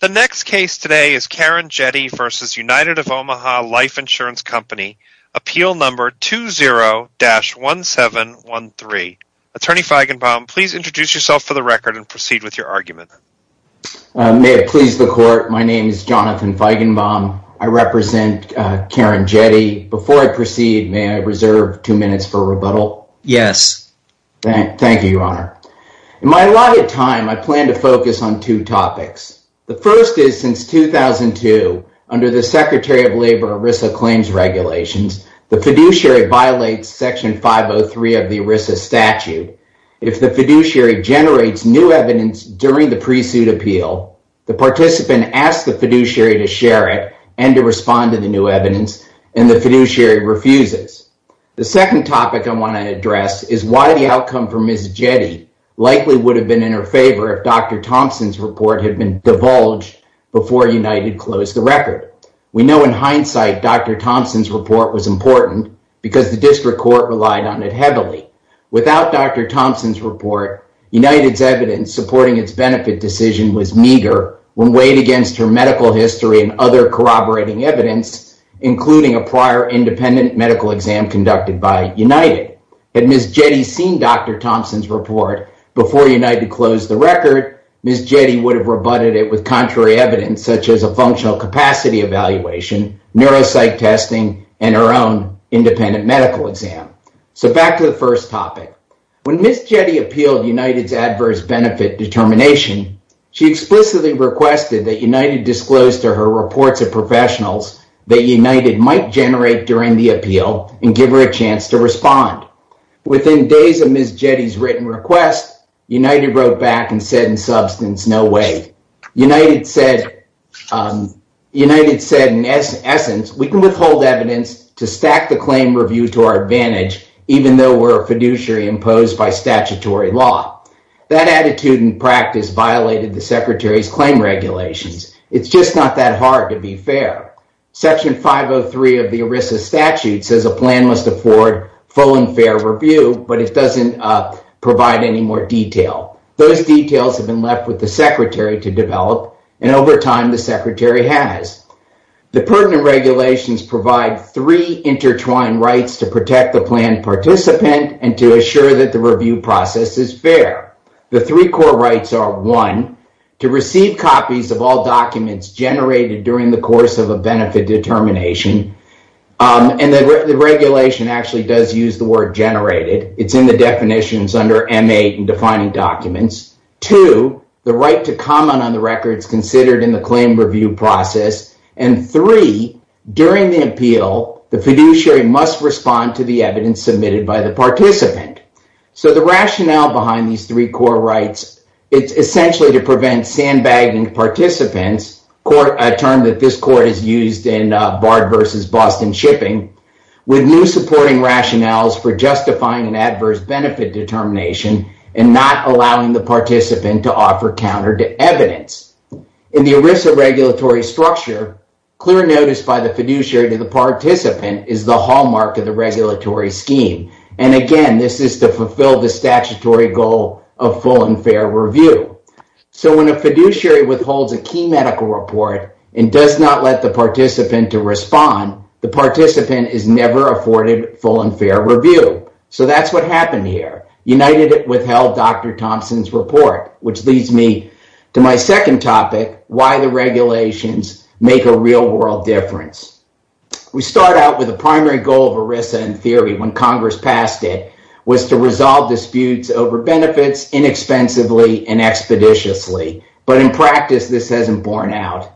20-1713. Attorney Feigenbaum, please introduce yourself for the record and proceed with your argument. May it please the Court, my name is Jonathan Feigenbaum. I represent Karen Jette. Before I proceed, may I reserve two minutes for rebuttal? Yes. Thank you, Your Honor. In my allotted time, I plan to focus on two topics. The first is, since 2002, under the Secretary of Labor ERISA Claims Regulations, the fiduciary violates Section 503 of the ERISA statute. If the fiduciary generates new evidence during the pre-suit appeal, the participant asks the fiduciary to share it and to respond to the new evidence, and the fiduciary refuses. The second topic I want to address is why the outcome for Ms. Jette likely would have been in her favor if Dr. Thompson's report had been divulged before United closed the record. We know in hindsight Dr. Thompson's report was important because the district court relied on it heavily. Without Dr. Thompson's report, United's evidence supporting its benefit decision was meager when weighed against her medical history and corroborating evidence, including a prior independent medical exam conducted by United. Had Ms. Jette seen Dr. Thompson's report before United closed the record, Ms. Jette would have rebutted it with contrary evidence, such as a functional capacity evaluation, neuropsych testing, and her own independent medical exam. So, back to the first topic. When Ms. Jette appealed United's professionals that United might generate during the appeal and give her a chance to respond. Within days of Ms. Jette's written request, United wrote back and said in substance, no way. United said, in essence, we can withhold evidence to stack the claim review to our advantage, even though we're a fiduciary imposed by statutory law. That attitude and practice violated the secretary's claim regulations. It's just not that hard to be fair. Section 503 of the ERISA statute says a plan must afford full and fair review, but it doesn't provide any more detail. Those details have been left with the secretary to develop, and over time the secretary has. The pertinent regulations provide three intertwined rights to protect the plan participant and to assure that the review process is fair. The three core rights are, one, to receive copies of all documents generated during the course of a benefit determination. The regulation actually does use the word generated. It's in the definitions under M8 in defining documents. Two, the right to comment on the records considered in the claim review process. Three, during the appeal, the fiduciary must respond to the evidence submitted by the participant. So the rationale behind these three core rights, it's essentially to prevent sandbagging participants, a term that this court has used in Bard v. Boston Shipping, with new supporting rationales for justifying an adverse benefit determination and not allowing the participant to offer counter to evidence. In the ERISA regulatory structure, clear notice by the fiduciary to the participant is the hallmark of the regulatory scheme. And again, this is to fulfill the statutory goal of full and fair review. So when a fiduciary withholds a key medical report and does not let the participant to respond, the participant is never afforded full and fair review. So that's what happened here. United withheld Dr. Thompson's real-world difference. We start out with the primary goal of ERISA in theory when Congress passed it, was to resolve disputes over benefits inexpensively and expeditiously. But in practice, this hasn't borne out.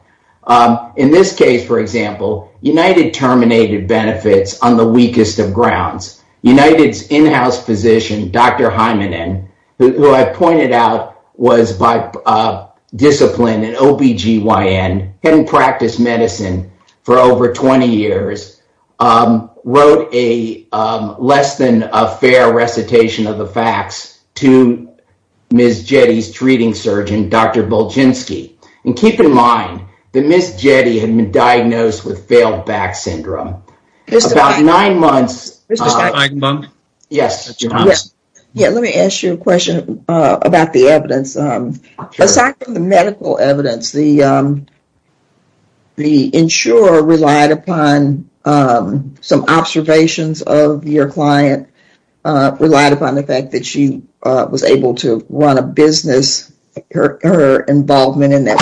In this case, for example, United terminated benefits on the weakest of grounds. United's in-house physician, Dr. Hymanen, who I pointed out was by discipline and OBGYN, hadn't practiced medicine for over 20 years, wrote a less than a fair recitation of the facts to Ms. Jetty's treating surgeon, Dr. Buljinsky. And keep in mind that Ms. Jetty had been diagnosed with failed back syndrome. About nine months... Mr. Steinbunk? Yes. Yeah, let me ask you a question about the evidence. Aside from the medical evidence, the insurer relied upon some observations of your client, relied upon the fact that she was able to run a business, her involvement in that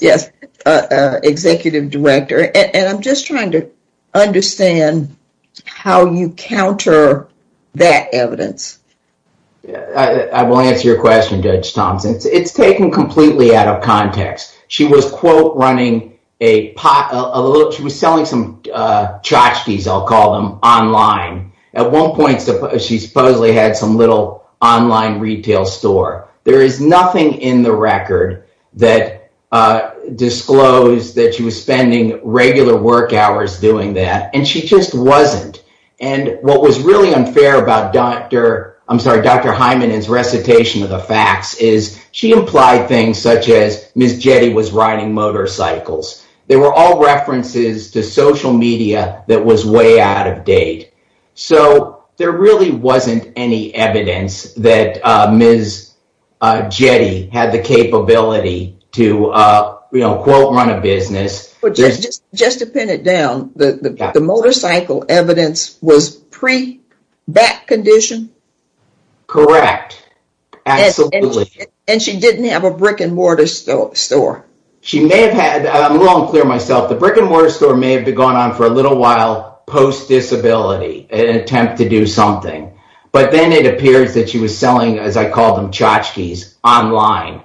Yes, executive director. And I'm just trying to understand how you counter that evidence. I will answer your question, Judge Thompson. It's taken completely out of context. She was, quote, running a pot, a little, she was selling some tchotchkes, I'll call them, online. At one point, she supposedly had some little online retail store. There is nothing in the record that disclosed that she was spending regular work hours doing that, and she just wasn't. And what was really unfair about Dr. Hymanen's recitation of the facts is she implied things such as Ms. Jetty was riding motorcycles. They were all references to social Jetty had the capability to, you know, quote, run a business. Just to pin it down, the motorcycle evidence was pre-back condition? Correct. Absolutely. And she didn't have a brick and mortar store? She may have had, I'm wrong to clear myself, the brick and mortar store may have gone on for a little while post-disability in an attempt to do something. But then it appears that she was selling tchotchkes online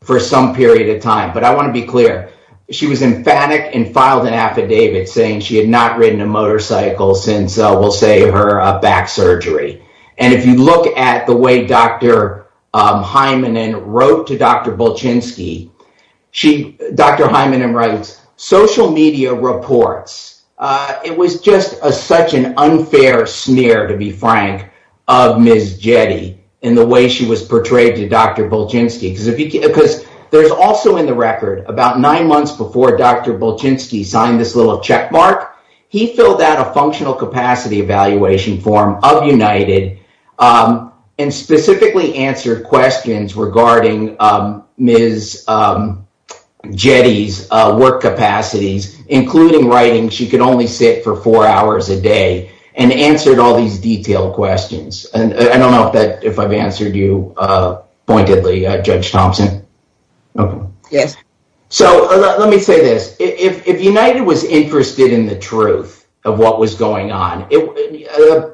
for some period of time. But I want to be clear, she was emphatic and filed an affidavit saying she had not ridden a motorcycle since, we'll say, her back surgery. And if you look at the way Dr. Hymanen wrote to Dr. Bolchinsky, Dr. Hymanen writes, social media reports. It was just such an unfair smear, to be frank, of Ms. Jetty in the way she was portrayed to Dr. Bolchinsky. Because there's also in the record, about nine months before Dr. Bolchinsky signed this little checkmark, he filled out a functional capacity evaluation form of including writing. She could only sit for four hours a day and answered all these detailed questions. And I don't know if I've answered you pointedly, Judge Thompson. Yes. So let me say this. If United was interested in the truth of what was going on,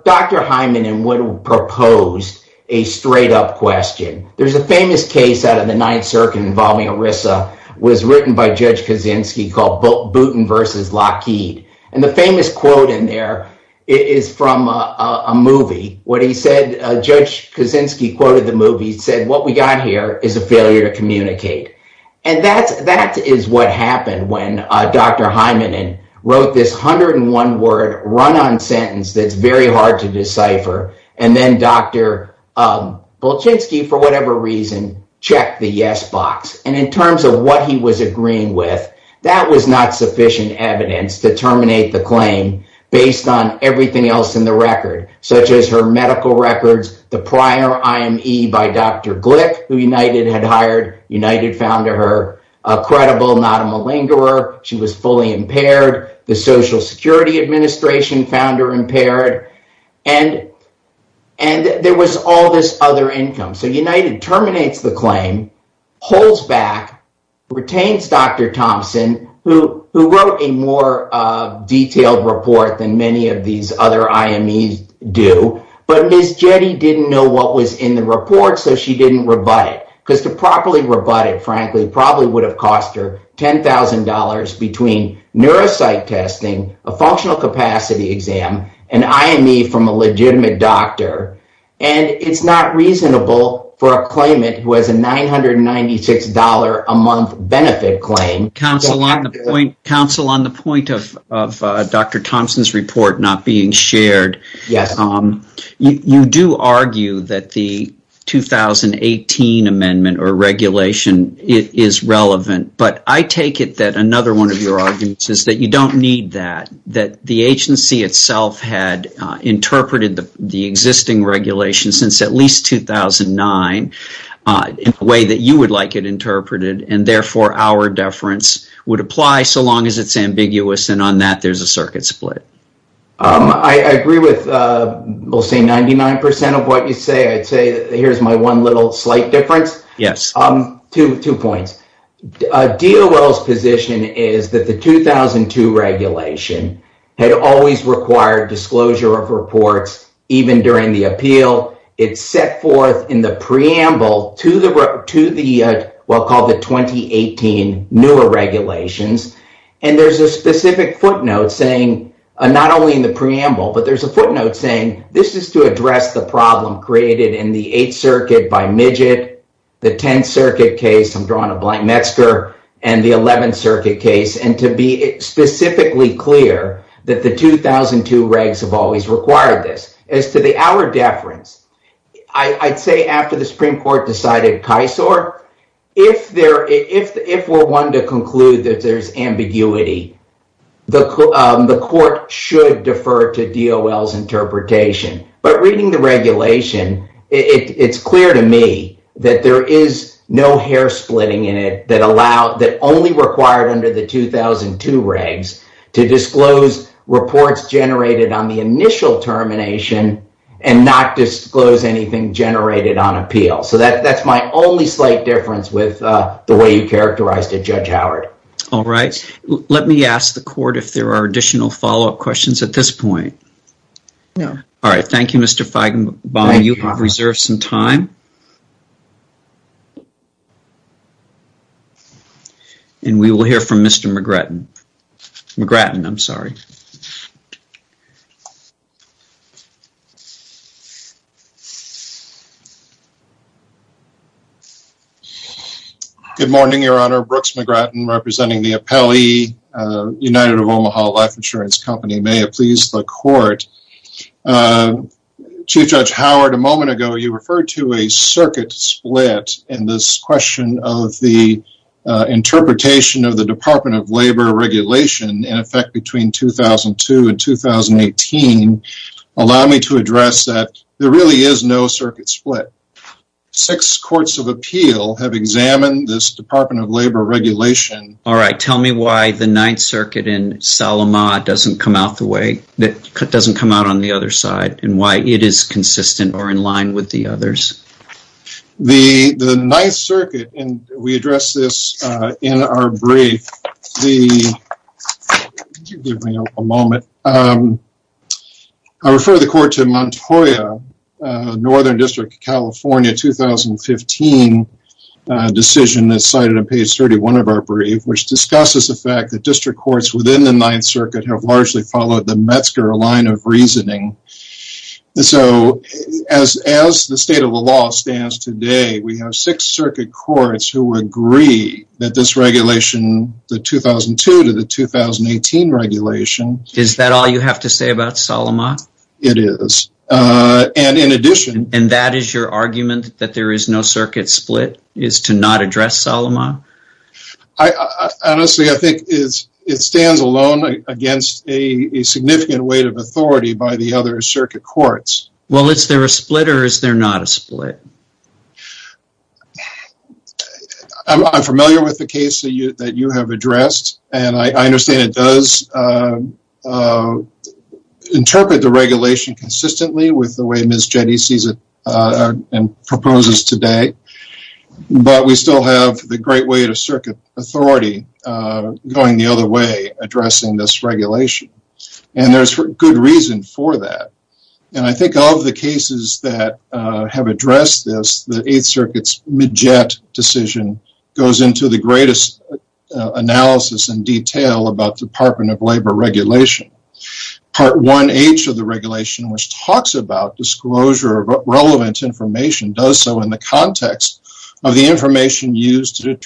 Dr. Hymanen would have proposed a straight up question. There's a famous case out of the Ninth Circuit involving ERISA was written by Judge Kaczynski called Booten versus Lockheed. And the famous quote in there is from a movie. What he said, Judge Kaczynski quoted the movie, he said, what we got here is a failure to communicate. And that is what happened when Dr. Hymanen wrote this 101 word run on sentence that's very hard to decipher. And then Dr. Bolchinsky, for whatever reason, checked the yes box. And in terms of what he was agreeing with, that was not sufficient evidence to terminate the claim based on everything else in the record, such as her medical records, the prior IME by Dr. Glick, who United had hired. United found her credible, not a malingerer. She was fully impaired. The Social Security United terminates the claim, holds back, retains Dr. Thompson, who wrote a more detailed report than many of these other IMEs do. But Ms. Jette didn't know what was in the report, so she didn't rebut it. Because to properly rebut it, frankly, probably would have cost her $10,000 between neuropsych testing, a functional capacity exam, an IME from a legitimate doctor. And it's not reasonable for a claimant who has a $996 a month benefit claim. Counsel, on the point of Dr. Thompson's report not being shared, you do argue that the 2018 amendment or regulation is relevant. But I take it that another one of your arguments is you don't need that. That the agency itself had interpreted the existing regulation since at least 2009 in a way that you would like it interpreted, and therefore our deference would apply so long as it's ambiguous, and on that there's a circuit split. I agree with, we'll say, 99% of what you say. I'd say here's my one little slight difference. Yes. Two points. DOL's position is that the 2002 regulation had always required disclosure of reports even during the appeal. It's set forth in the preamble to the, what we'll call the 2018 newer regulations, and there's a specific footnote saying, not only in the preamble, but there's a footnote saying this is to address the problem created in the 8th Circuit by Midget, the 10th Circuit case, I'm drawing a blank Metzger, and the 11th Circuit case, and to be specifically clear that the 2002 regs have always required this. As to the our deference, I'd say after the Supreme Court decided Kisor, if we're one to conclude that there's ambiguity, the court should defer to DOL's interpretation. But reading the only required under the 2002 regs to disclose reports generated on the initial termination and not disclose anything generated on appeal. So that that's my only slight difference with the way you characterized it, Judge Howard. All right. Let me ask the court if there are additional follow-up questions at this point. No. All right. Thank you, Mr. Feigenbaum. You and we will hear from Mr. McGratton. McGratton, I'm sorry. Good morning, Your Honor. Brooks McGratton, representing the appellee, United of Omaha Life Insurance Company. May it please the court. Chief Judge Howard, a moment ago you referred to a circuit split in this question of the interpretation of the Department of Labor regulation in effect between 2002 and 2018. Allow me to address that. There really is no circuit split. Six courts of appeal have examined this Department of Labor regulation. All right. Tell me why the Ninth Circuit in Salama doesn't come out the way that doesn't come out on the other side and why it is consistent or in line with the others. The Ninth Circuit, and we addressed this in our brief, the give me a moment. I refer the court to Montoya, Northern District of California, 2015 decision that's cited on page 31 of our brief, which discusses the fact that district courts within the Ninth Circuit have largely followed the Metzger line of reasoning. So as the state of the law stands today, we have six circuit courts who agree that this regulation, the 2002 to the 2018 regulation. Is that all you have to say about Salama? It is. And in addition. And that is your argument that there is no circuit split is to not address Salama? Honestly, I think it stands alone against a significant weight of authority by the other circuit courts. Well, is there a split or is there not a split? I'm familiar with the case that you have addressed, and I understand it does interpret the regulation consistently with the way Ms. Jette sees it and proposes today. But we still have the great weight of circuit authority going the other way, addressing this regulation. And there's good reason for that. And I think all of the cases that have addressed this, the Eighth Circuit's Majette decision goes into the greatest analysis and detail about Department of Labor regulation. Part 1H of the regulation, which talks about relevant information, does so in the context of the information used to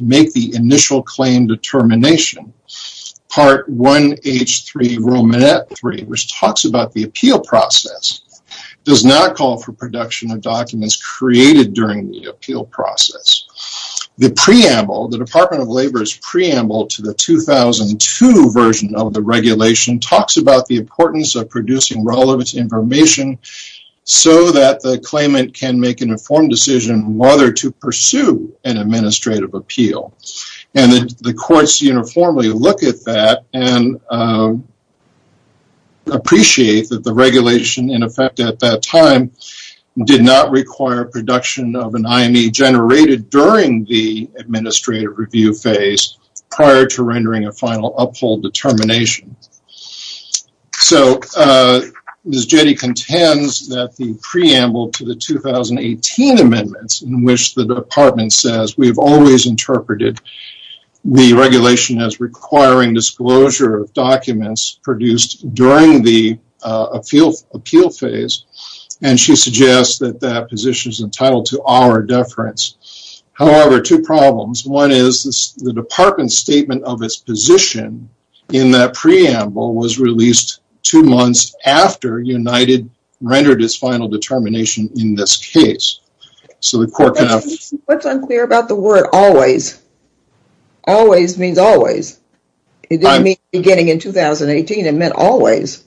make the initial claim determination. Part 1H3 which talks about the appeal process, does not call for production of documents created during the appeal process. The preamble, the Department of Labor's preamble to the 2002 version of the regulation, talks about the importance of producing relevant information so that the claimant can make an informed decision whether to pursue an administrative appeal. And the courts uniformly look at that and appreciate that the regulation, in effect at that time, did not require production of an IME generated during the appeal process prior to rendering a final uphold determination. So Ms. Jette contends that the preamble to the 2018 amendments in which the department says we've always interpreted the regulation as requiring disclosure of documents produced during the appeal phase. And she suggests that that position is entitled to our deference. However, two problems. One is the department's statement of its position in that preamble was released two months after United rendered its final determination in this case. So the court... What's unclear about the word always? Always means always. It didn't mean beginning in 2018. It meant always.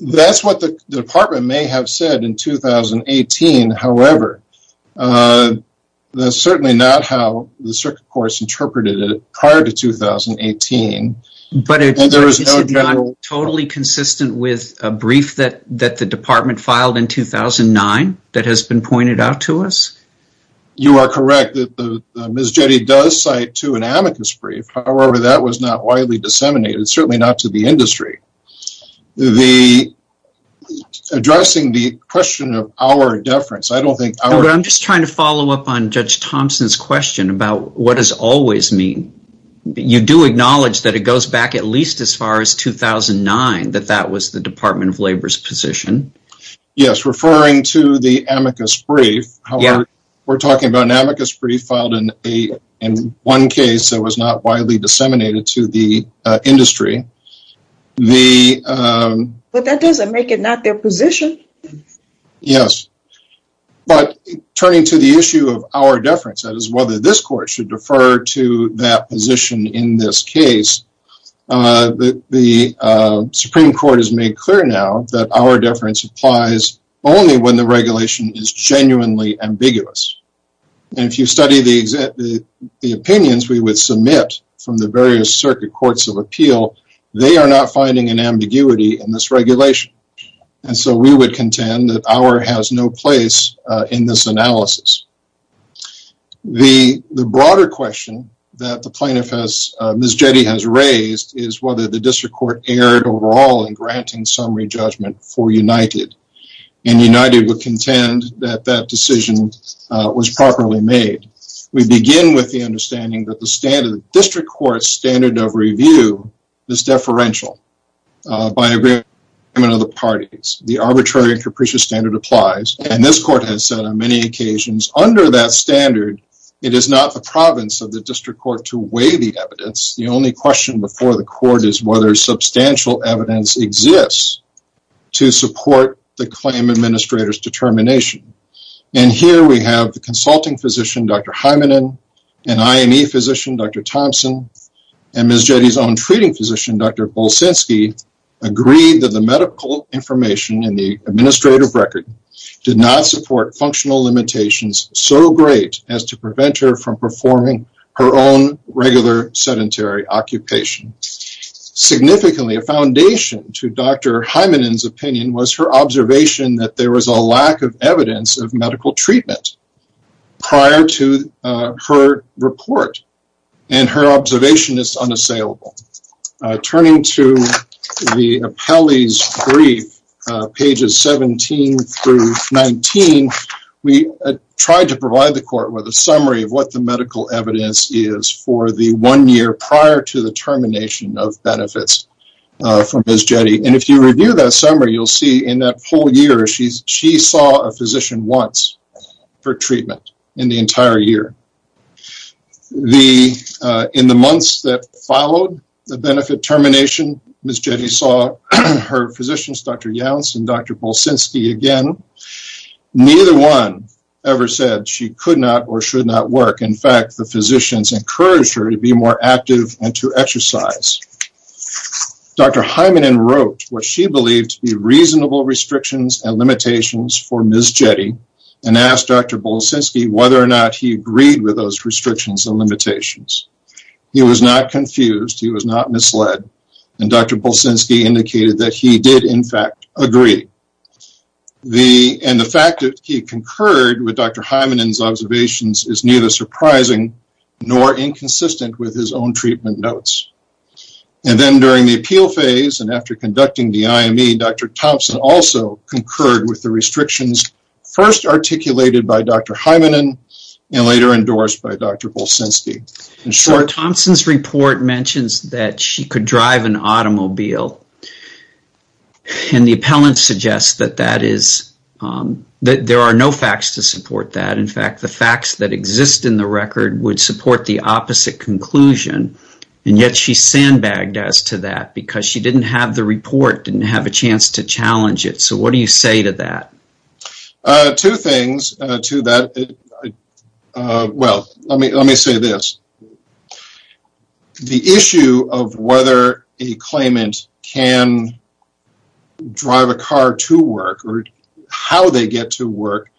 That's what the department may have said in 2018. However, that's certainly not how the circuit court interpreted it prior to 2018. But it's not totally consistent with a brief that the department filed in 2009 that has been pointed out to us? You are correct. Ms. Jette does cite to an amicus brief. However, that was not widely disseminated, certainly not to the industry. The addressing the question of our deference, I don't think... I'm just trying to what does always mean? You do acknowledge that it goes back at least as far as 2009, that that was the Department of Labor's position. Yes. Referring to the amicus brief. However, we're talking about an amicus brief filed in one case that was not widely disseminated to the industry. But that doesn't make it not their position. Yes. But turning to the issue of our deference, that is whether this court should defer to that position in this case, the Supreme Court has made clear now that our deference applies only when the regulation is genuinely ambiguous. And if you study the opinions we would submit from the various circuit courts of appeal, they are not finding an ambiguity in this regulation. And so we would contend that our has no place in this analysis. The broader question that the plaintiff has... Ms. Jette has raised is whether the district court erred overall in granting summary judgment for United. And United would contend that that decision was properly made. We begin with the understanding that the district court standard of review is deferential by agreement of the parties. The capricious standard applies. And this court has said on many occasions under that standard, it is not the province of the district court to weigh the evidence. The only question before the court is whether substantial evidence exists to support the claim administrator's determination. And here we have the consulting physician, Dr. Hymanen, and IME physician, Dr. Thompson, and Ms. Jette's own treating physician, Dr. Bulsinski, agreed that the medical information in the administrative record did not support functional limitations so great as to prevent her from performing her own regular sedentary occupation. Significantly, a foundation to Dr. Hymanen's opinion was her observation that there was a lack of evidence of medical treatment prior to her report. And her observation is unassailable. Turning to the appellee's brief, pages 17 through 19, we tried to provide the court with a summary of what the medical evidence is for the one year prior to the termination of benefits from Ms. Jette. And if you review that summary, you'll see in that whole year, she saw a physician once for treatment in the entire year. In the months that followed the benefit termination, Ms. Jette saw her physicians, Dr. Younce and Dr. Bulsinski again. Neither one ever said she could not or should not work. In fact, the physicians encouraged her to be more active and to exercise. Dr. Hymanen wrote what she believed to be reasonable restrictions and limitations for Ms. Jette and asked Dr. Bulsinski whether or not he agreed with those restrictions and limitations. He was not confused. He was not misled. And Dr. Bulsinski indicated that he did in fact agree. And the fact that he concurred with Dr. Hymanen's observations is neither surprising nor inconsistent with his own treatment notes. And then during the appeal phase and after conducting the IME, Dr. Thompson also concurred with the restrictions first articulated by Dr. Hymanen and later endorsed by Dr. Bulsinski. In short, Thompson's report mentions that she could drive an automobile and the appellant suggests that there are no facts to support that. In fact, the facts that exist in the record would support the opposite conclusion. And yet she sandbagged as to that because she didn't have the report, didn't have a chance to challenge it. So what do you say to that? Two things to that. Well, let me say this. The issue of whether a claimant can drive a car to work or how they get to work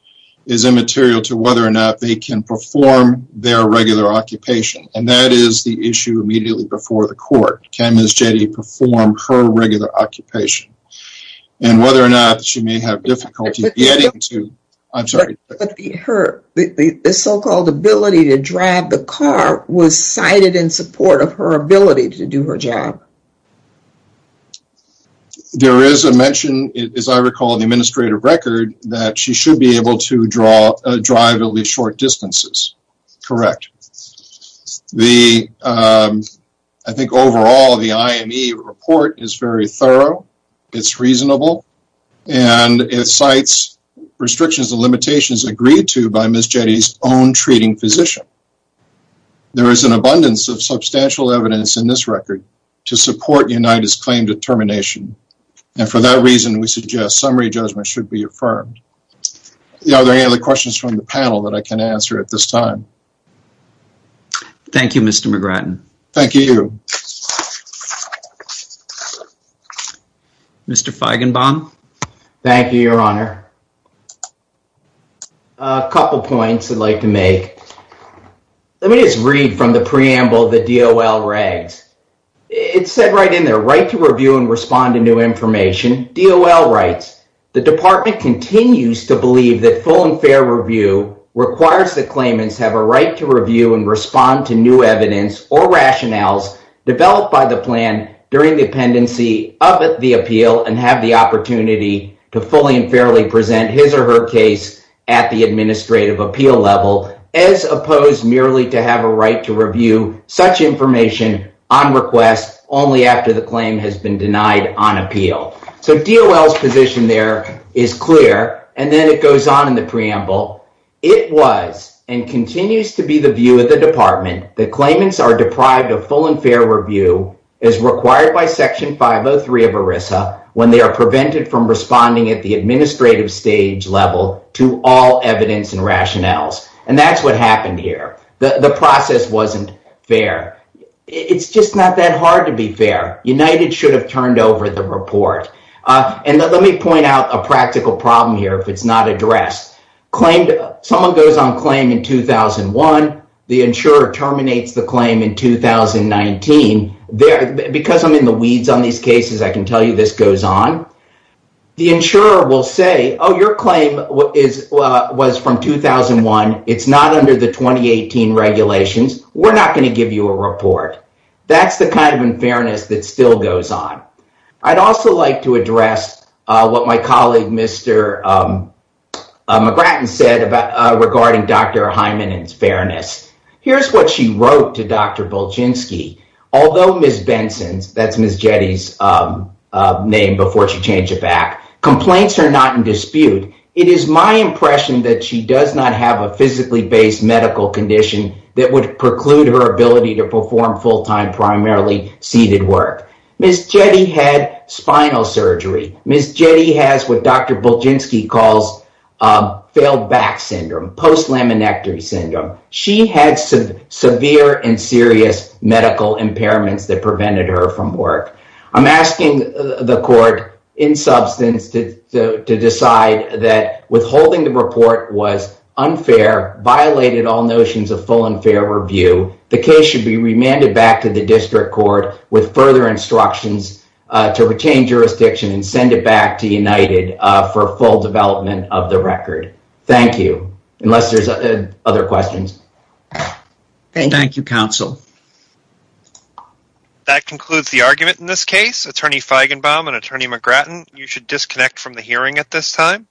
is immaterial to whether or not they can perform their regular occupation. And that is the issue immediately before the court. Can Ms. Jette perform her regular occupation? And whether or not she may have difficulty getting to, I'm sorry. The so-called ability to drive the car was cited in support of her ability to do her job. There is a mention, as I recall, in the administrative record that she should be able to drive at least short distances. Correct. I think overall the IME report is very thorough, it's reasonable, and it cites restrictions and limitations agreed to by Ms. Jette's own treating physician. There is an abundance of substantial evidence in this record to support UNITA's claim determination, and for that reason we suggest summary judgment should be affirmed. Are there any other questions from the panel that I can answer at this time? Thank you, Mr. McGratton. Thank you. Mr. Feigenbaum. Thank you, Your Honor. A couple points I'd like to make. Let me just read from the preamble the DOL rags. It said right in there, right to review and respond to new information. DOL writes, the department continues to believe that full and fair review requires the claimants have a right to review and respond to new evidence or rationales developed by the plan during the pendency of the appeal and have the opportunity to fully and fairly present his or her case at the administrative appeal level as opposed merely to have a right to review such information on request only after the claim has been denied on appeal. So DOL's position there is clear, and then it goes on in the preamble. It was and continues to be the view of the department that claimants are deprived of full and fair review as required by Section 503 of ERISA when they are prevented from responding at the administrative stage level to all evidence and rationales, and that's what happened here. The process wasn't fair. It's just not that hard to be fair. United should have turned over the report, and let me point out a practical problem here if it's not addressed. Someone goes on claim in 2001. The insurer terminates the claim in 2019. Because I'm in the weeds on these cases, I can tell you this goes on. The insurer will say, oh, your claim was from 2001. It's not under the 2018 regulations. We're not going to give you a report. That's the kind of unfairness that still goes on. I'd also like to address what my colleague Mr. McGratton said regarding Dr. Hyman and his here's what she wrote to Dr. Bulginski. Although Ms. Benson's, that's Ms. Jetty's name before she changed it back, complaints are not in dispute. It is my impression that she does not have a physically based medical condition that would preclude her ability to perform full-time, primarily seated work. Ms. Jetty had spinal surgery. Ms. Jetty has what Dr. Bulginski calls failed back syndrome, post-laminectomy syndrome. She had severe and serious medical impairments that prevented her from work. I'm asking the court in substance to decide that withholding the report was unfair, violated all notions of full and fair review. The case should be remanded back to the district court with further instructions to retain jurisdiction and send it back to United for full development of the record. Thank you. Unless there's other questions. Thank you, counsel. That concludes the argument in this case. Attorney Feigenbaum and Attorney McGratton, you should disconnect from the hearing at this time.